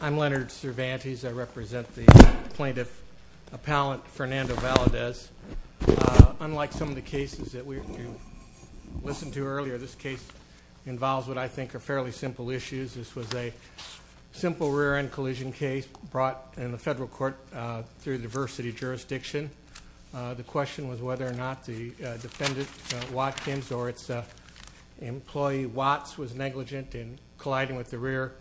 I'm Leonard Cervantes. I represent the plaintiff appellant Fernando Valadez. Unlike some of the cases that we listened to earlier, this case involves what I think are fairly simple issues. This was a simple rear-end collision case brought in the federal court through the diversity jurisdiction. The question was whether or not the defendant Watkins or its employee Watts was negligent in colliding with the rear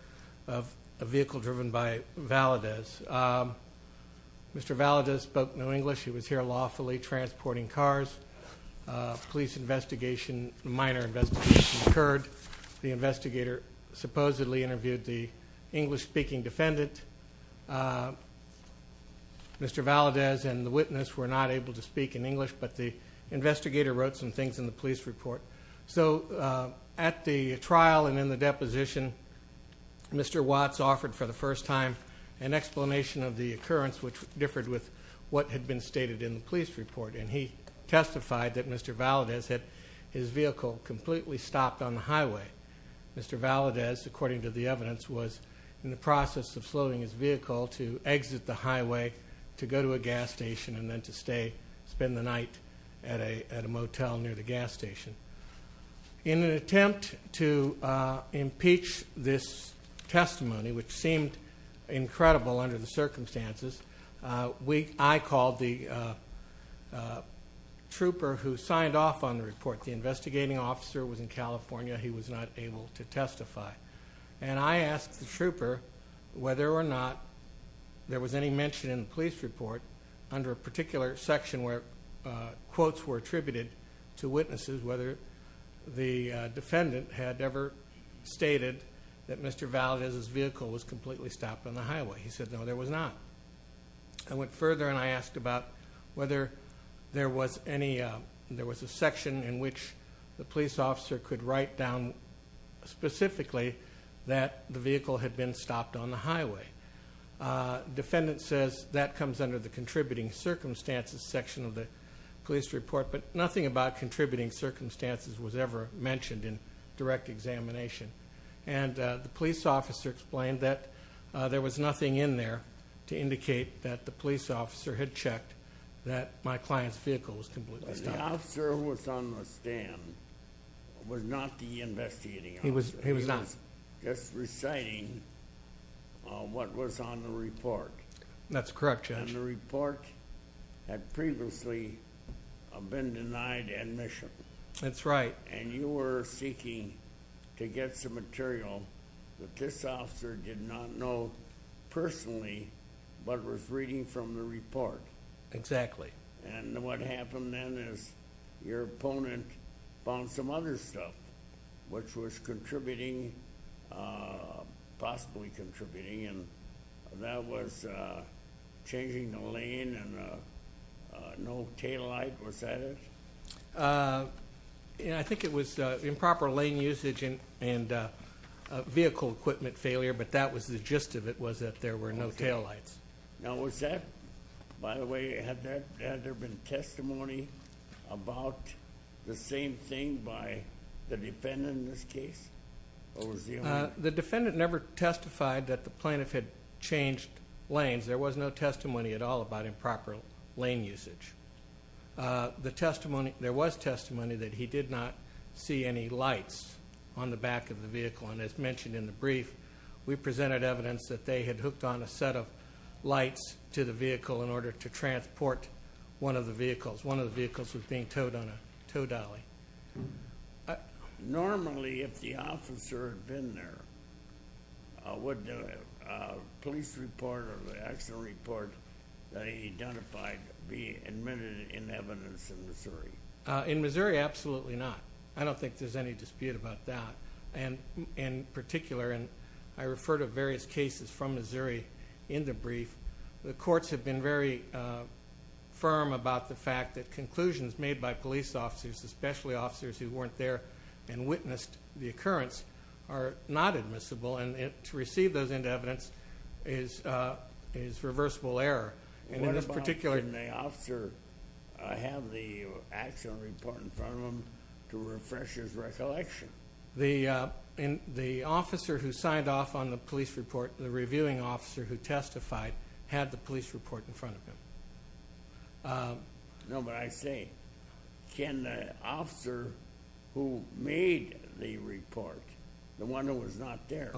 of a vehicle driven by Valadez. Mr. Valadez spoke no English. He was here lawfully transporting cars. Police investigation, minor investigation occurred. The investigator supposedly interviewed the English-speaking defendant. Mr. Valadez and the witness were not able to speak in English, but the investigator wrote some things in the police report. So at the trial and in the deposition, Mr. Watts offered for the first time an explanation of the occurrence, which differed with what had been stated in the police report. And he testified that Mr. Valadez had his vehicle completely stopped on the highway. Mr. Valadez, according to the evidence, was in the process of slowing his vehicle to exit the highway to go to a gas station and then to stay, spend the night at a motel near the gas station. In an attempt to impeach this testimony, which seemed incredible under the circumstances, I called the trooper who signed off on the report. The investigating officer was in California. He was not able to testify. And I asked the trooper whether or not there was any mention in the police report under a particular section where quotes were attributed to witnesses, whether the defendant had ever stated that Mr. Valadez's vehicle was completely stopped on the highway. He said no, there was not. I went further and I asked about whether there was any, there was a section in which the police officer could write down specifically that the vehicle had been stopped on the highway. Defendant says that comes under the contributing circumstances section of the police report, but nothing about contributing circumstances was ever mentioned in direct examination. And the police officer explained that there was nothing in there to indicate that the police officer had checked that my client's vehicle was completely stopped. The officer who was on the stand was not the investigating officer. He was not. He was just reciting what was on the report. That's correct, Judge. And the report had previously been denied admission. That's right. And you were seeking to get some material that this officer did not know personally, but was reading from the report. And what happened then is your opponent found some other stuff which was contributing, possibly contributing, and that was changing the lane and no taillight. Was that it? Yeah, I think it was improper lane usage and vehicle equipment failure, but that was the gist of it was that there were no taillights. Now was that, by the way, had there been testimony about the same thing by the defendant in this case? The defendant never testified that the plaintiff had changed lanes. There was no testimony at all about improper lane usage. The testimony, there was testimony that he did not see any lights on the back of the vehicle, and as mentioned in the brief, we presented evidence that they had hooked on a set of lights to the vehicle in order to transport one of the vehicles. One of the vehicles was being towed on a tow dolly. Normally, if the officer had been there, would the police report or the actual report that he identified be admitted in evidence in Missouri? In Missouri, absolutely not. I don't think there's any dispute about that. And in particular, and I refer to various cases from Missouri in the brief, the courts have been very firm about the fact that conclusions made by police officers, especially officers who weren't there and witnessed the occurrence, are not admissible, and to receive those in evidence is reversible error. What about when the officer had the actual report in front of him to refresh his recollection? The officer who signed off on the police report, the officer who had the police report in front of him. No, but I say, can the officer who made the report, the one who was not there,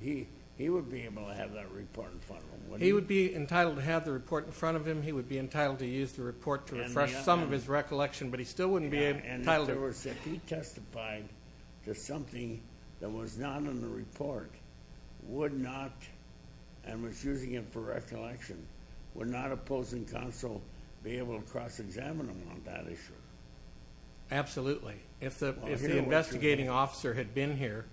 he would be able to have that report in front of him. He would be entitled to have the report in front of him. He would be entitled to use the report to refresh some of his recollection, but he still wouldn't be entitled to it. And if he testified to something that was not in the report, would not, and was using it for recollection, would not opposing counsel be able to cross-examine him on that issue? Absolutely. If the investigating officer had been here,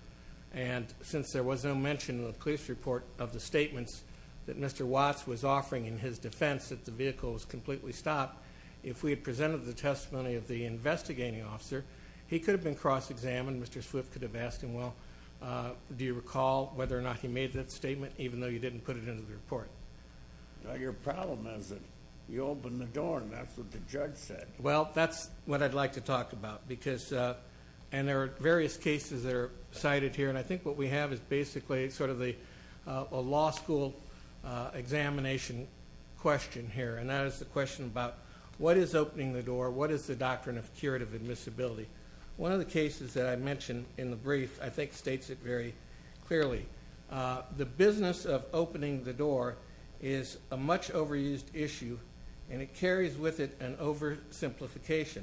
and since there was no mention in the police report of the statements that Mr. Watts was offering in his defense that the vehicle was completely stopped, if we had presented the testimony of the investigating officer, he could have been whether or not he made that statement, even though you didn't put it into the report. Your problem is that you opened the door, and that's what the judge said. Well, that's what I'd like to talk about, because, and there are various cases that are cited here, and I think what we have is basically sort of a law school examination question here, and that is the question about what is opening the door? What is the doctrine of curative admissibility? One of the cases that I mentioned in the brief, I The business of opening the door is a much overused issue, and it carries with it an oversimplification.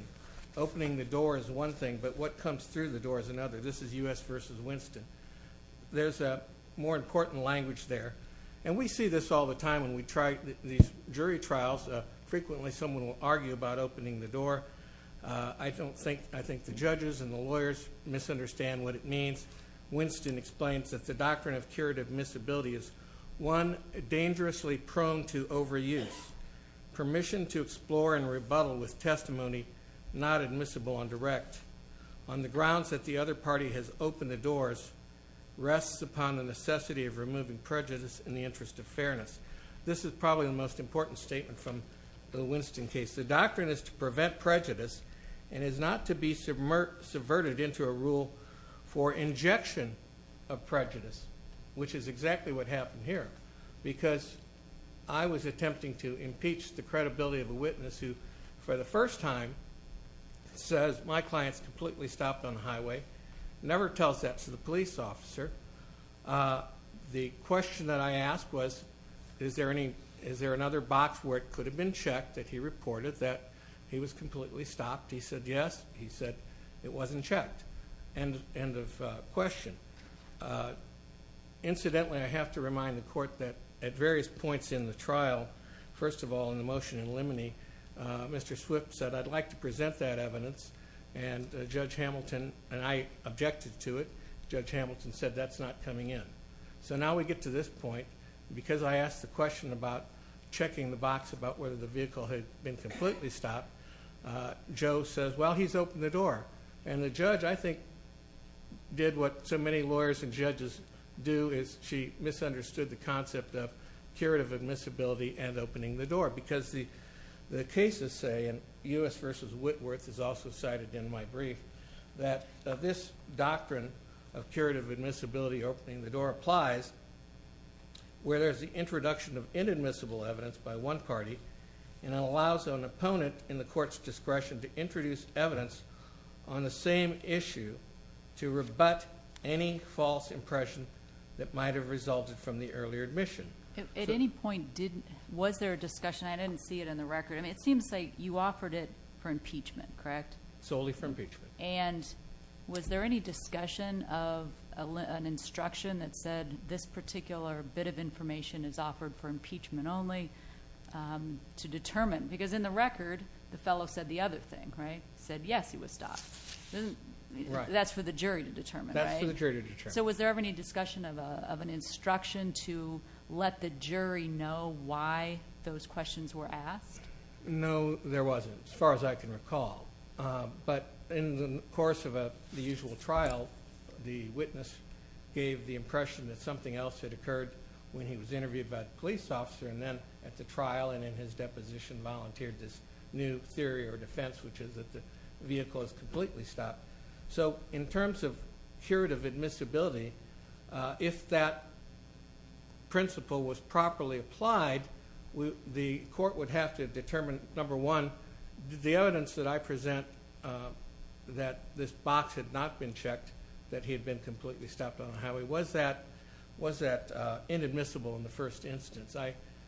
Opening the door is one thing, but what comes through the door is another. This is U.S. v. Winston. There's a more important language there, and we see this all the time when we try these jury trials. Frequently, someone will argue about opening the door. I don't think, I think the judges and the doctrine of curative admissibility is, one, dangerously prone to overuse. Permission to explore and rebuttal with testimony not admissible on direct, on the grounds that the other party has opened the doors, rests upon the necessity of removing prejudice in the interest of fairness. This is probably the most important statement from the Winston case. The doctrine is to prevent prejudice, and is not to be subverted into a rule for injection of which is exactly what happened here, because I was attempting to impeach the credibility of a witness who, for the first time, says, my client's completely stopped on the highway, never tells that to the police officer. The question that I asked was, is there any, is there another box where it could have been checked that he reported that he was completely stopped? He said, yes. He said it wasn't checked. End of question. Incidentally, I have to remind the court that at various points in the trial, first of all, in the motion in limine, Mr. Swift said, I'd like to present that evidence, and Judge Hamilton and I objected to it. Judge Hamilton said that's not coming in. So now we get to this point, because I asked the question about checking the box about whether the vehicle had been completely stopped. Joe says, well, he's opened the door. And the judge, I think, did what so many lawyers and judges do, is she misunderstood the concept of curative admissibility and opening the door, because the cases say, and U.S. versus Whitworth is also cited in my brief, that this doctrine of curative admissibility, opening the door, applies where there's the introduction of evidence. And I want, in the court's discretion, to introduce evidence on the same issue to rebut any false impression that might have resulted from the earlier admission. At any point, was there a discussion? I didn't see it in the record. I mean, it seems like you offered it for impeachment, correct? Solely for impeachment. And was there any discussion of an instruction only to determine? Because in the record, the fellow said the other thing, right? He said, yes, he was stopped. That's for the jury to determine, right? That's for the jury to determine. So was there ever any discussion of an instruction to let the jury know why those questions were asked? No, there wasn't, as far as I can recall. But in the course of the usual trial, the witness gave the impression that something else had happened. And then at the trial and in his deposition, volunteered this new theory or defense, which is that the vehicle is completely stopped. So in terms of curative admissibility, if that principle was properly applied, the court would have to determine, number one, the evidence that I present that this box had not been checked, that he had been completely stopped on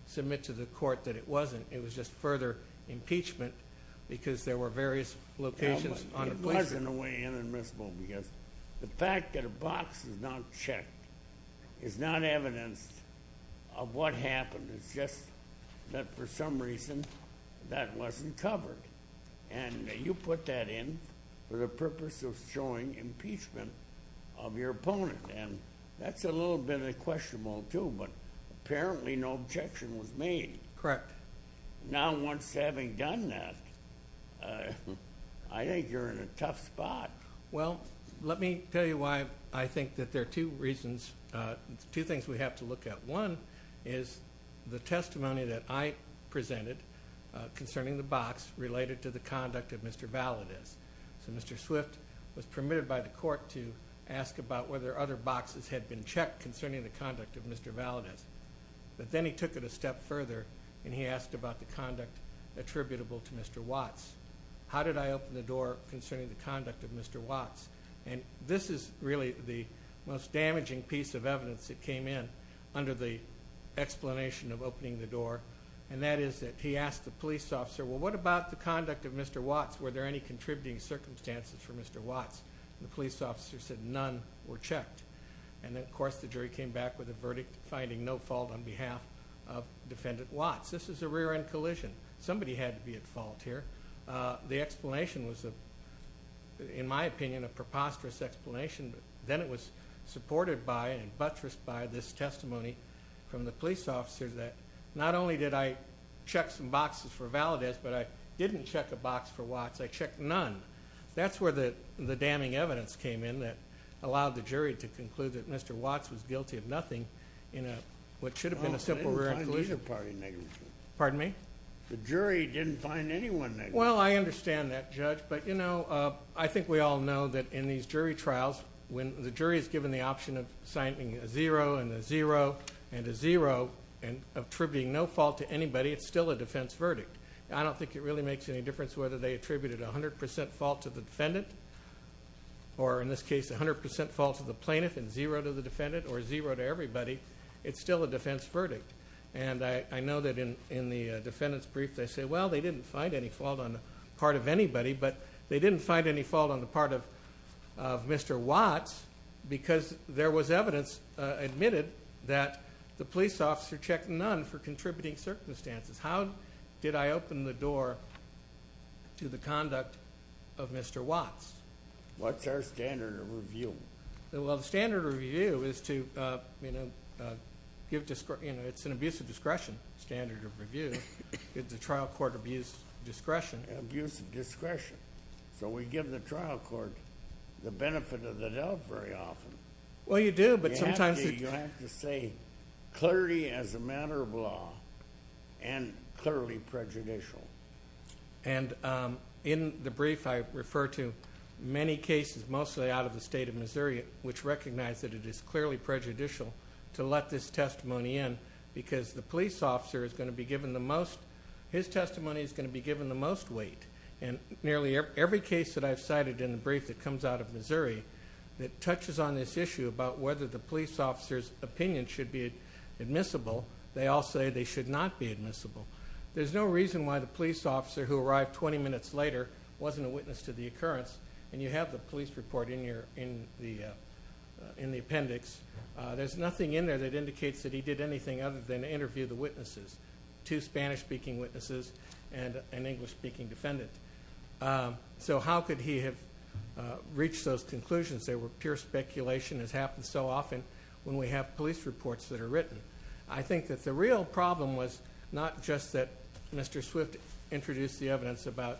submit to the court that it wasn't. It was just further impeachment because there were various locations on the place. It wasn't in a way inadmissible because the fact that a box is not checked is not evidenced of what happened. It's just that for some reason, that wasn't covered. And you put that in for the purpose of showing impeachment of your opponent. And that's a little bit of questionable, too, but apparently no objection was made. Correct. Now, once having done that, I think you're in a tough spot. Well, let me tell you why I think that there are two reasons. Two things we have to look at. One is the testimony that I presented concerning the box related to the conduct of Mr. Balladist. So Mr. Swift was permitted by the court to ask about whether other boxes had been checked concerning the conduct of Mr. Balladist. But then he took it a step further and he asked about the conduct attributable to Mr. Watts. How did I open the door concerning the conduct of Mr. Watts? And this is really the most damaging piece of evidence that came in under the explanation of opening the door. And that is that he asked the police officer, Well, what about the for Mr. Watts? The police officer said none were checked. And then, of course, the jury came back with a verdict, finding no fault on behalf of Defendant Watts. This is a rear end collision. Somebody had to be at fault here. The explanation was, in my opinion, a preposterous explanation. Then it was supported by and buttressed by this testimony from the police officer that not only did I check some boxes for Balladist, but I didn't check a box for the damning evidence came in that allowed the jury to conclude that Mr. Watts was guilty of nothing in a what should have been a simple rear end collision. Pardon me? The jury didn't find anyone. Well, I understand that, Judge. But, you know, I think we all know that in these jury trials, when the jury is given the option of signing a zero and a zero and a zero and attributing no fault to anybody, it's still a defense verdict. I don't think it really makes any difference whether they attributed 100% fault to the defendant or, in this case, 100% fault to the plaintiff and zero to the defendant or zero to everybody. It's still a defense verdict. And I know that in the defendant's brief, they say, well, they didn't find any fault on the part of anybody, but they didn't find any fault on the part of Mr. Watts because there was evidence admitted that the police officer checked none for contributing circumstances. How did I open the door to the conduct of Mr. Watts? What's our standard of review? Well, the standard of review is to give... It's an abuse of discretion standard of review. It's a trial court abuse of discretion. Abuse of discretion. So we give the trial court the benefit of the doubt very often. Well, you do, but sometimes... You have to say, clarity as a matter of law and clearly prejudicial. And in the brief, I refer to many cases, mostly out of the state of Missouri, which recognize that it is clearly prejudicial to let this testimony in because the police officer is going to be given the most... His testimony is going to be given the most weight. And nearly every case that I've cited in the brief that comes out of Missouri that touches on this issue about whether the police officer's opinion should be admissible, they all say they should not be admissible. There's no reason why the police officer who arrived 20 minutes later wasn't a witness to the occurrence. And you have the police report in the appendix. There's nothing in there that indicates that he did anything other than interview the witnesses, two Spanish speaking witnesses and an English speaking defendant. So how could he have reached those conclusions? They were pure speculation. It's happened so often when we have police reports that are written. I think that the real problem was not just that Mr. Swift introduced the evidence about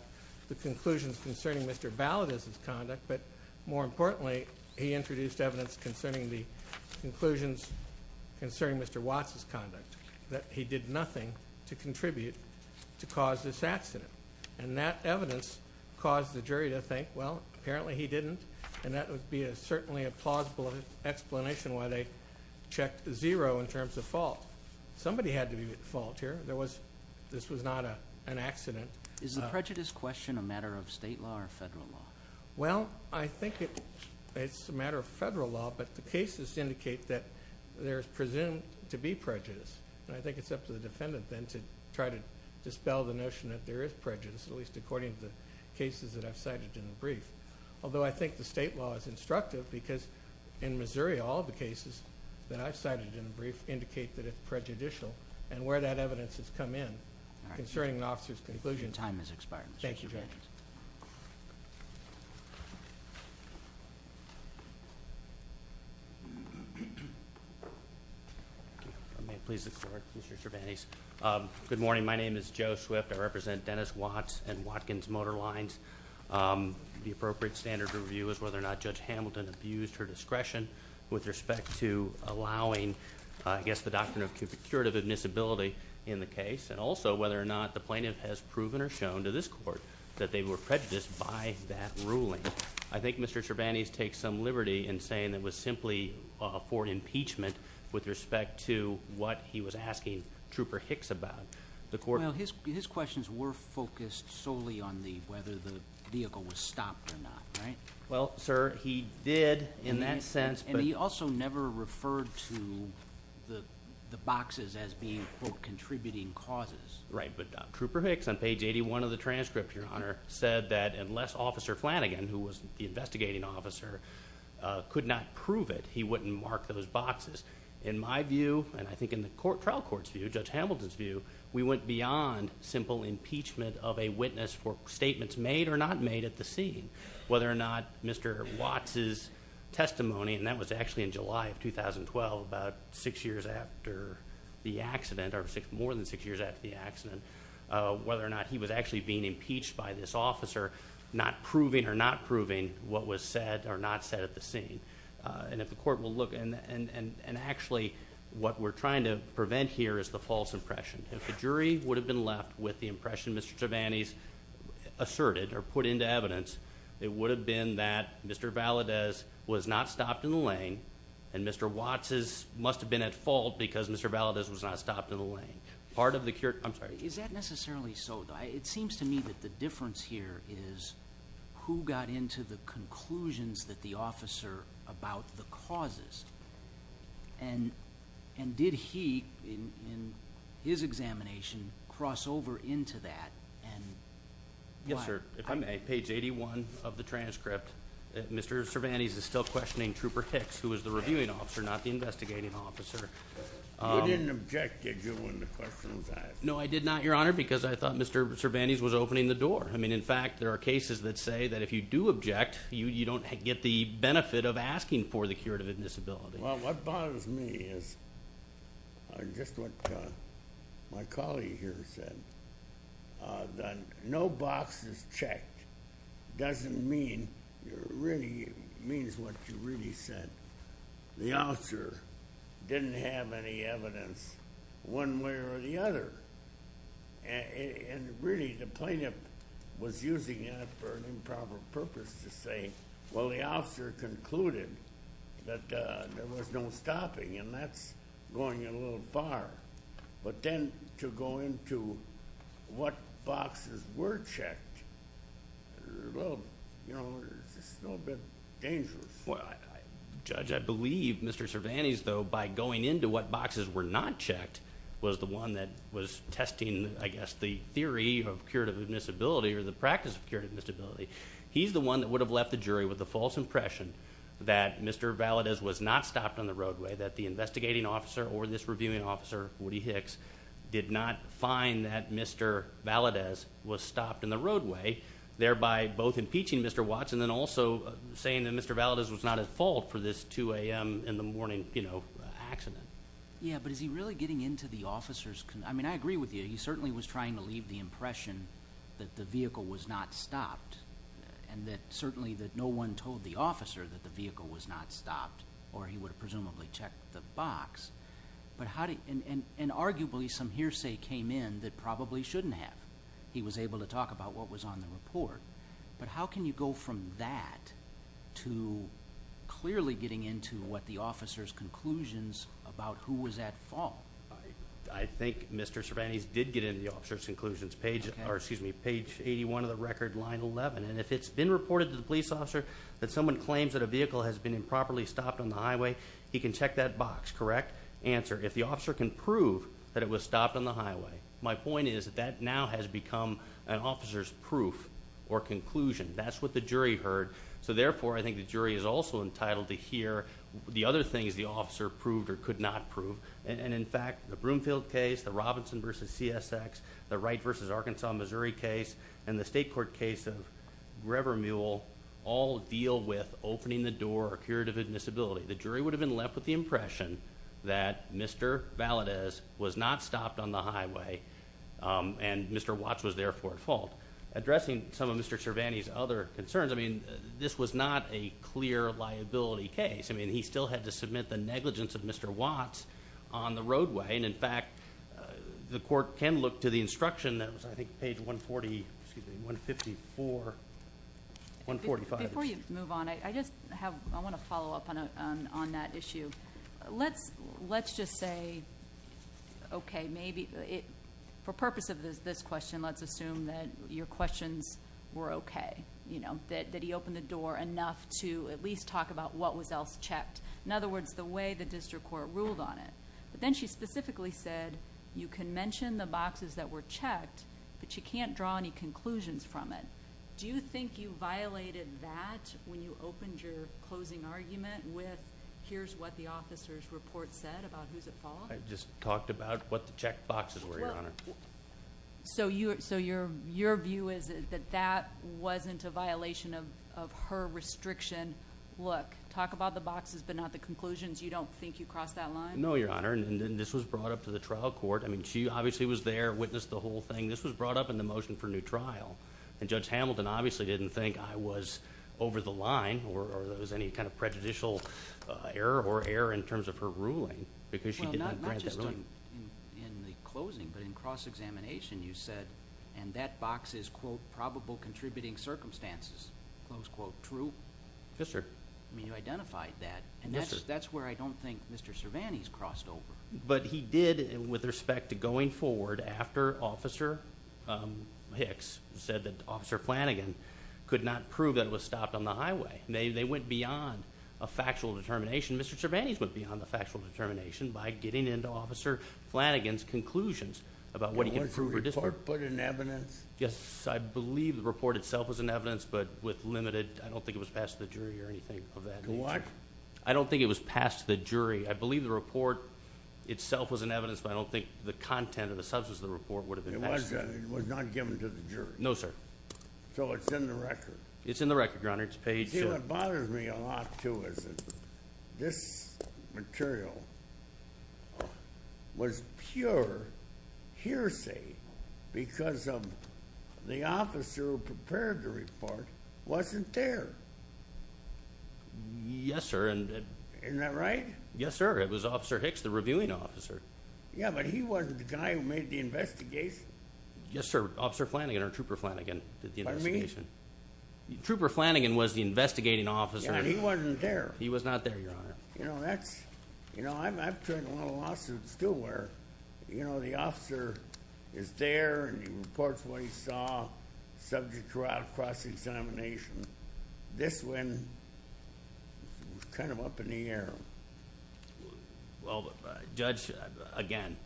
the conclusions concerning Mr. Balladus' conduct, but more importantly, he introduced evidence concerning the conclusions concerning Mr. Watts' conduct, that he did nothing to contribute to cause this accident. And that evidence caused the jury to think, well, apparently he didn't, and that would be certainly a plausible explanation why they checked zero in terms of fault. Somebody had to be at fault here. This was not an accident. Is the prejudice question a matter of state law or federal law? Well, I think it's a matter of federal law, but the cases indicate that there's presumed to be prejudice. And I think it's up to the defendant then to try to dispel the notion that there is prejudice, at least according to the cases that I've cited in the brief. Although I think the state law is instructive because in Missouri, all the cases that I've cited in the brief indicate that it's prejudicial, and where that evidence has come in, concerning an officer's conclusion. Time has expired, Mr. Chervantes. Thank you, Your Honor. If I may please explore, Mr. Chervantes. Good morning. My name is Joe Swift. I represent Dennis Watts and Watkins Motor Lines. The appropriate standard of review is whether or not Judge Hamilton abused her discretion with respect to allowing, I guess, the doctrine of curative admissibility in the case, and also whether or not the plaintiff has proven or shown to this court that they were prejudiced by that ruling. I think Mr. Chervantes takes some liberty in saying it was simply for impeachment with respect to what he was asking Trooper Hicks about. The court... Well, his questions were focused solely on whether the vehicle was stopped or not, right? Well, sir, he did in that sense, but... And he also never referred to the boxes as being, quote, contributing causes. Right, but Trooper Hicks, on page 81 of the transcript, Your Honor, said that unless Officer Flanagan, who was the investigating officer, could not prove it, he wouldn't mark those boxes. In my view, and I think in the trial court's view, Judge Hamilton's view, we went beyond simple impeachment of a witness for statements made or not made at the scene. Whether or not Mr. Watts' testimony, and that was actually in July of 2012, about six years after the accident, or more than six years after the accident, whether or not he was actually being impeached by this officer, not proving or not proving what was said or not said at the scene. And if the court will look... And actually, what we're trying to prevent here is the false impression. If the jury would have been left with the impression Mr. Chervantes asserted or put into evidence, it would have been that Mr. Valadez was not stopped in the lane and Mr. Watts' must have been at fault because Mr. Valadez was not stopped in the lane. Part of the... I'm sorry. Is that necessarily so? It seems to me that the difference here is who got into the conclusions that the officer about the causes. And did he, in his examination, cross over into that and... Yes, sir. If I may, page 81 of the transcript, Mr. Chervantes is still questioning Trooper Hicks, who was the reviewing officer, not the investigating officer. You didn't object, did you, when the question was asked? No, I did not, Your Honor, because I thought Mr. Chervantes was opening the door. In fact, there are cases that say that if you do object, you don't get the benefit of asking for the curative admissibility. Well, what bothers me is just what my colleague here said, that no box is checked doesn't mean... It really means what you really said. The officer didn't have any evidence one way or the other. And really, the plaintiff was using that for an improper purpose to say, well, the officer concluded that there was no stopping and that's going in a little bar. But then, to go into what boxes were checked, well, it's a little bit dangerous. Well, Judge, I believe Mr. Chervantes, though, by going into what boxes were not checked, was the one that was testing, I guess, the theory of curative admissibility or the practice of curative admissibility. He's the one that would have left the jury with a false impression that Mr. Valadez was not stopped on the roadway, that the investigating officer or this reviewing officer, Woody Hicks, did not find that Mr. Valadez was stopped in the roadway, thereby both impeaching Mr. Watts and then also saying that Mr. Valadez was not at fault for this 2 a.m. in the morning accident. Yeah, but is he really getting into the officer's... I mean, I agree with you. He certainly was trying to leave the impression that the vehicle was not stopped and that certainly that no one told the officer that the vehicle was not stopped or he would have presumably checked the box. But how do... And arguably some hearsay came in that probably shouldn't have. He was able to talk about what was on the report. But how can you go from that to clearly getting into what the officer's conclusions about who was at fault? I think Mr. Chervantes did get into the officer's conclusions, page 81 of the record, line 11. And if it's been reported to the police officer that someone claims that a vehicle has been improperly stopped on the highway, he can check that box, correct? Answer, if the officer can prove that it was stopped on the highway. My point is that that now has become an officer's proof or conclusion. That's what the jury heard. So therefore, I think the jury is also entitled to hear the other things the officer proved or could not prove. And in fact, the Broomfield case, the Robinson versus CSX, the Wright versus Arkansas, Missouri case, and the State Court case of Grever Mule all deal with opening the door or the spirit of admissibility. The jury would have been left with the impression that Mr. Valadez was not stopped on the highway, and Mr. Watts was therefore at fault. Addressing some of Mr. Chervantes' other concerns, this was not a clear liability case. He still had to submit the negligence of Mr. Watts on the roadway. And in fact, the court can look to the instruction that was, I think, page 140, excuse me, 154, 145. Before you move on, I just have... I wanna follow up on that issue. Let's just say, okay, maybe... For purpose of this question, let's assume that your questions were okay, that he opened the door enough to at least talk about what was else checked. In other words, the way the district court ruled on it. But then she specifically said, you can mention the boxes that were checked, but you can't draw any conclusions from it. Do you think you violated that when you opened your closing argument with, here's what the officer's report said about who's at fault? I just talked about what the checked boxes were, Your Honor. So your view is that that wasn't a violation of her restriction. Look, talk about the boxes, but not the conclusions. You don't think you crossed that line? No, Your Honor. And then this was brought up to the trial court. She obviously was there, witnessed the whole thing. This was brought up in the motion for new trial. And Judge Hamilton obviously didn't think I was over the line or there was any kind of prejudicial error or error in terms of her ruling, because she didn't grant that ruling. Well, not just in the closing, but in cross examination, you said, and that box is, quote, probable contributing circumstances, close quote, true? Yes, sir. You identified that, and that's where I did, with respect to going forward after Officer Hicks said that Officer Flanagan could not prove that it was stopped on the highway. They went beyond a factual determination. Mr. Cervantes went beyond the factual determination by getting into Officer Flanagan's conclusions about what he can prove or disprove. Did the report put in evidence? Yes, I believe the report itself was in evidence, but with limited... I don't think it was passed to the jury or anything of that nature. What? I don't think it was passed to the jury. I believe the report itself was in evidence, but I don't think the content or the substance of the report would have been passed to the jury. It was not given to the jury? No, sir. So it's in the record? It's in the record, Your Honor. It's paid to... See, what bothers me a lot, too, is that this material was pure hearsay because of the officer who prepared the report wasn't there. Yes, sir, and... Isn't that right? Yes, sir. It was Officer Hicks, the reviewing officer. Yeah, but he wasn't the guy who made the investigation. Yes, sir. Officer Flanagan or Trooper Flanagan did the investigation. Pardon me? Trooper Flanagan was the investigating officer. Yeah, and he wasn't there. He was not there, Your Honor. I've tried a lot of lawsuits, too, where the officer is there and he reports what he saw, subject to trial, cross examination. This one was kind of up in the air. Well, Judge, again,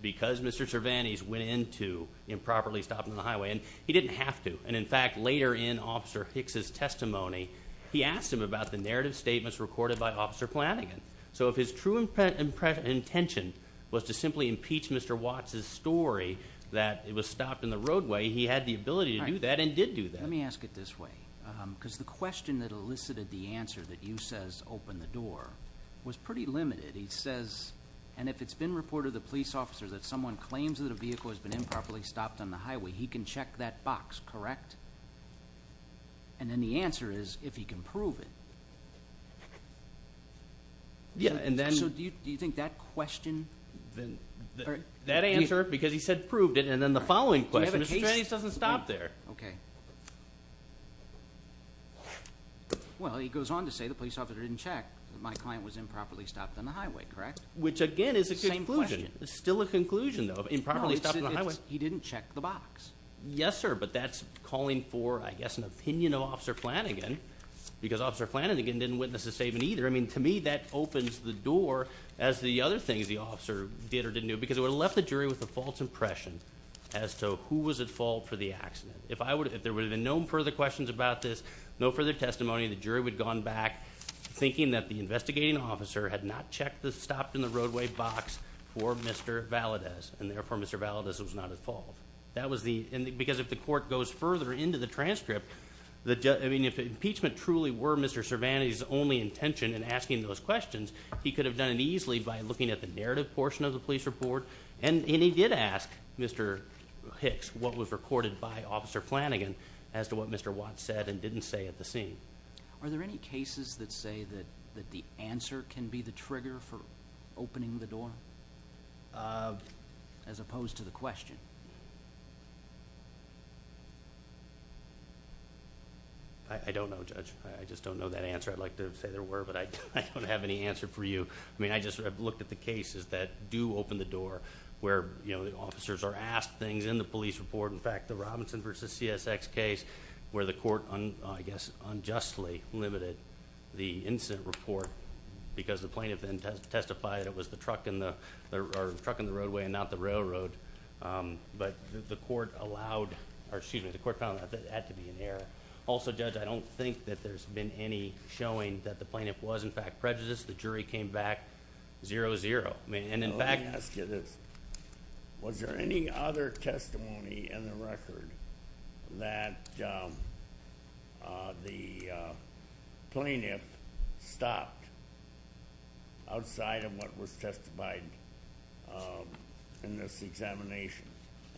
because Mr. Cervantes went into improperly stopping the highway, and he didn't have to, and in fact, later in Officer Hicks' testimony, he asked him about the narrative statements recorded by Officer Flanagan. So if his true intention was to simply impeach Mr. Watts' story that it was stopped in the roadway, he had the ability to do that and did do that. Let me ask it this way, because the question that elicited the answer that you says opened the door was pretty limited. He says, and if it's been reported to the police officer that someone claims that a vehicle has been improperly stopped on the highway, he can check that box, correct? And then the answer is if he can prove it. Yeah, and then... So do you think that question... That answer, because he said proved it, and then the following question, Mr. Cervantes doesn't stop there. Okay. Well, he goes on to say the police officer didn't check that my client was improperly stopped on the highway, correct? Which again is a conclusion. Same question. It's still a conclusion though, improperly stopped on the highway. No, he didn't check the box. Yes, sir, but that's calling for, I guess, an opinion of Officer Flanagan, because Officer Flanagan didn't witness the statement either. To me, that opens the door as the other things the officer did or didn't do, because it would have left the jury with a false impression as to who was at fault for the accident. If there would have been no further questions about this, no further testimony, the jury would have gone back thinking that the investigating officer had not stopped in the roadway box for Mr. Valadez, and therefore Mr. Valadez was not at fault. That was the... Because if the court goes further into the transcript, if the impeachment truly were Mr. Cervantes' only intention in asking those questions, he could have done it more easily by looking at the narrative portion of the police report, and he did ask Mr. Hicks what was recorded by Officer Flanagan as to what Mr. Watts said and didn't say at the scene. Are there any cases that say that the answer can be the trigger for opening the door, as opposed to the question? I don't know, Judge. I just don't know that answer. I'd like to say there were, but I don't have any answer for you. I just looked at the cases that do open the door, where the officers are asked things in the police report. In fact, the Robinson versus CSX case, where the court, I guess, unjustly limited the incident report because the plaintiff then testified it was the truck in the roadway and not the railroad. But the court allowed... Or excuse me, the court found that had to be an error. Also, Judge, I don't think that there's been any showing that the plaintiff was, in fact, prejudiced. The jury came back 0-0. And in fact... Let me ask you this. Was there any other testimony in the record that the plaintiff stopped outside of what was testified in this examination?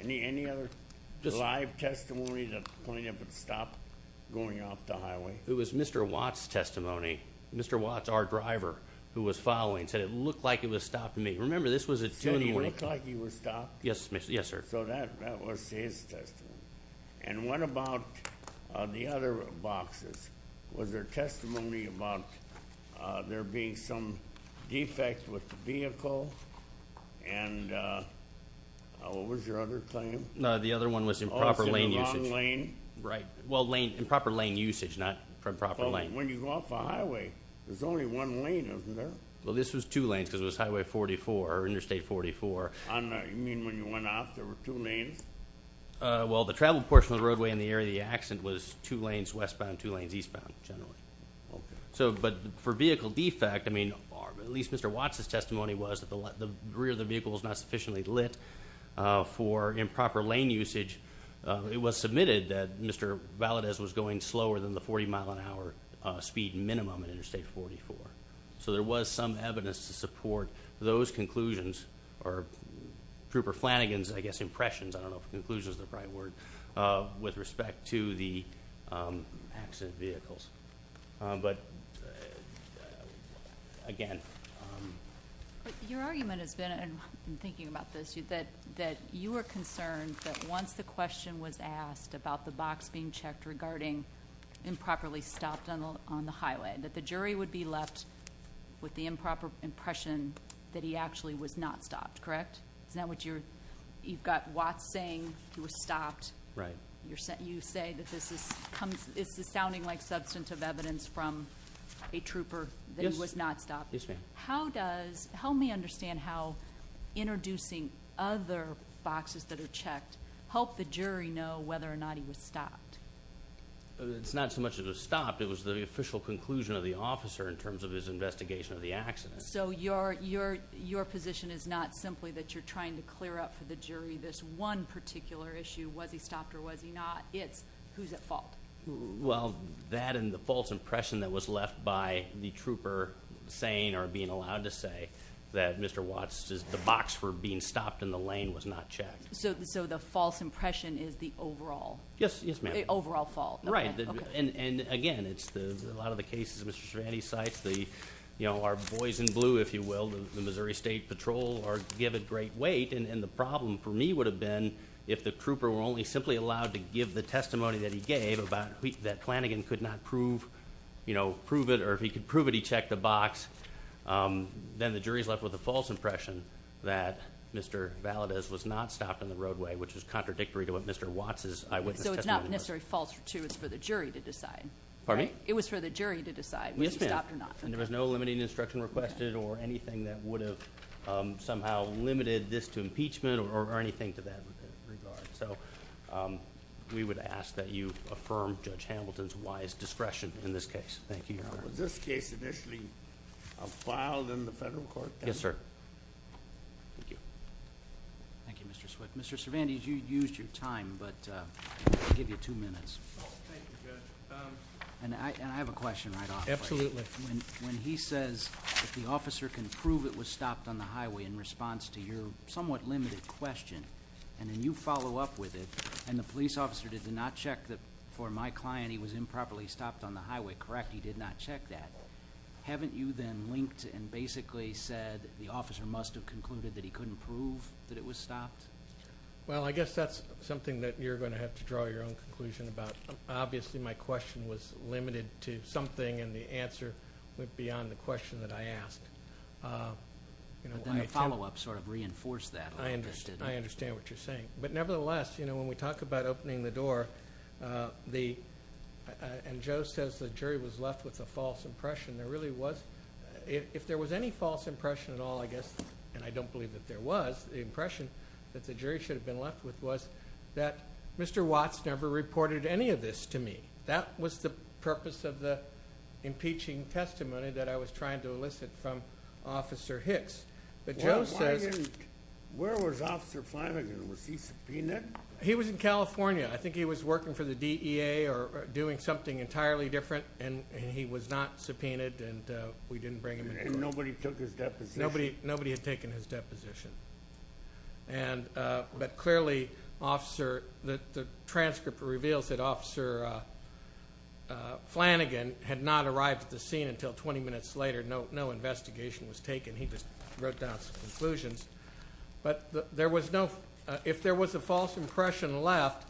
Any other live testimony that the plaintiff had stopped going off the highway? It was Mr. Watt's testimony. Mr. Watt's, our driver, who was following, said, it looked like it was stopped to me. Remember, this was at 2 in the morning. Said it looked like he was stopped? Yes, sir. So that was his testimony. And what about the other boxes? Was there testimony about there being some defect with the vehicle? And what was your other claim? No, the other one was improper lane usage. Improper lane? Right. Well, improper lane usage, not proper lane. When you go off the highway, there's only one lane, isn't there? Well, this was two lanes, because it was Highway 44, or Interstate 44. You mean when you went off, there were two lanes? Well, the travel portion of the roadway in the area of the accident was two lanes westbound, two lanes eastbound, generally. Okay. But for vehicle defect, at least Mr. Watt's testimony was that the rear of the vehicle was not sufficiently lit for improper lane usage. It was submitted that Mr. Valadez was going slower than the 40 mile an hour speed minimum in Interstate 44. So there was some evidence to support those conclusions, or Trooper Flanagan's, I guess, impressions, I don't know if conclusion is the right word, with respect to the accident vehicles. But again... Your argument has been, and I'm thinking about this, that you were concerned that once the question was asked about the box being checked regarding improperly stopped on the highway, that the jury would be left with the improper impression that he actually was not stopped, correct? Is that what you're... You've got Watt saying he was stopped. Right. You say that this is... This is sounding like substantive evidence from a trooper that he was not stopped. Yes, ma'am. How does... There are boxes that are checked. Help the jury know whether or not he was stopped. It's not so much that he was stopped, it was the official conclusion of the officer in terms of his investigation of the accident. So your position is not simply that you're trying to clear up for the jury this one particular issue, was he stopped or was he not? It's who's at fault. Well, that and the false impression that was left by the trooper saying, or being allowed to say, that Mr. Lane was not checked. So the false impression is the overall... Yes, yes, ma'am. The overall fault. Right. And again, it's a lot of the cases Mr. Cervantes cites, the... Our boys in blue, if you will, the Missouri State Patrol, or give it great weight. And the problem for me would have been if the trooper were only simply allowed to give the testimony that he gave about... That Flanagan could not prove it, or if he could prove it, he checked the box, then the jury's left with a false impression that Mr. Valadez was not stopped on the roadway, which is contradictory to what Mr. Watts' eyewitness testimony was. So it's not necessarily false too, it's for the jury to decide. Pardon me? It was for the jury to decide whether he stopped or not. Yes, ma'am. And there was no limiting instruction requested or anything that would have somehow limited this to impeachment or anything to that regard. So we would ask that you affirm Judge Hamilton's wise discretion in this case. Thank you, Your Honor. Was this case initially filed in the federal court? Yes, sir. Thank you. Thank you, Mr. Swift. Mr. Cervantes, you used your time, but I'll give you two minutes. Oh, thank you, Judge. And I have a question right off. Absolutely. When he says that the officer can prove it was stopped on the highway in response to your somewhat limited question, and then you follow up with it, and the police officer did not check that for my stopped on the highway, correct? He did not check that. Haven't you then linked and basically said the officer must have concluded that he couldn't prove that it was stopped? Well, I guess that's something that you're gonna have to draw your own conclusion about. Obviously, my question was limited to something and the answer went beyond the question that I asked. But then the follow up sort of reinforced that. I understand what you're saying. But nevertheless, when we talk about opening the door, the... And Joe says the jury was left with a false impression. There really was... If there was any false impression at all, I guess, and I don't believe that there was, the impression that the jury should have been left with was that Mr. Watts never reported any of this to me. That was the purpose of the impeaching testimony that I was trying to elicit from Officer Hicks. But Joe says... Where was Officer Flanagan? Was he subpoenaed? He was in California. I think he was working for the DEA or doing something entirely different and he was not subpoenaed and we didn't bring him in. And nobody took his deposition? Nobody had taken his deposition. But clearly, Officer... The transcript reveals that Officer Flanagan had not arrived at the scene until 20 minutes later. No investigation was taken. He just wrote down some conclusions. But there was no... If there was a false impression left,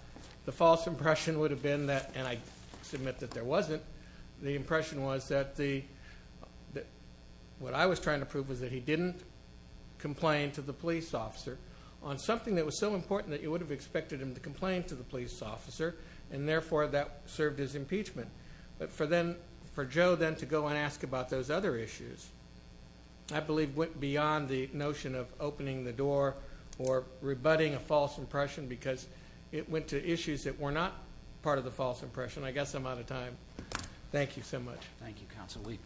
the false impression would have been that... And I submit that there wasn't. The impression was that what I was trying to prove was that he didn't complain to the police officer on something that was so important that you would have expected him to complain to the police officer, and therefore, that served as impeachment. But for Joe then to go and ask about those other issues, I believe, went beyond the notion of opening the door or rebutting a false impression because it went to issues that were not part of the false impression. I guess I'm out of time. Thank you so much. Thank you, Counsel Week.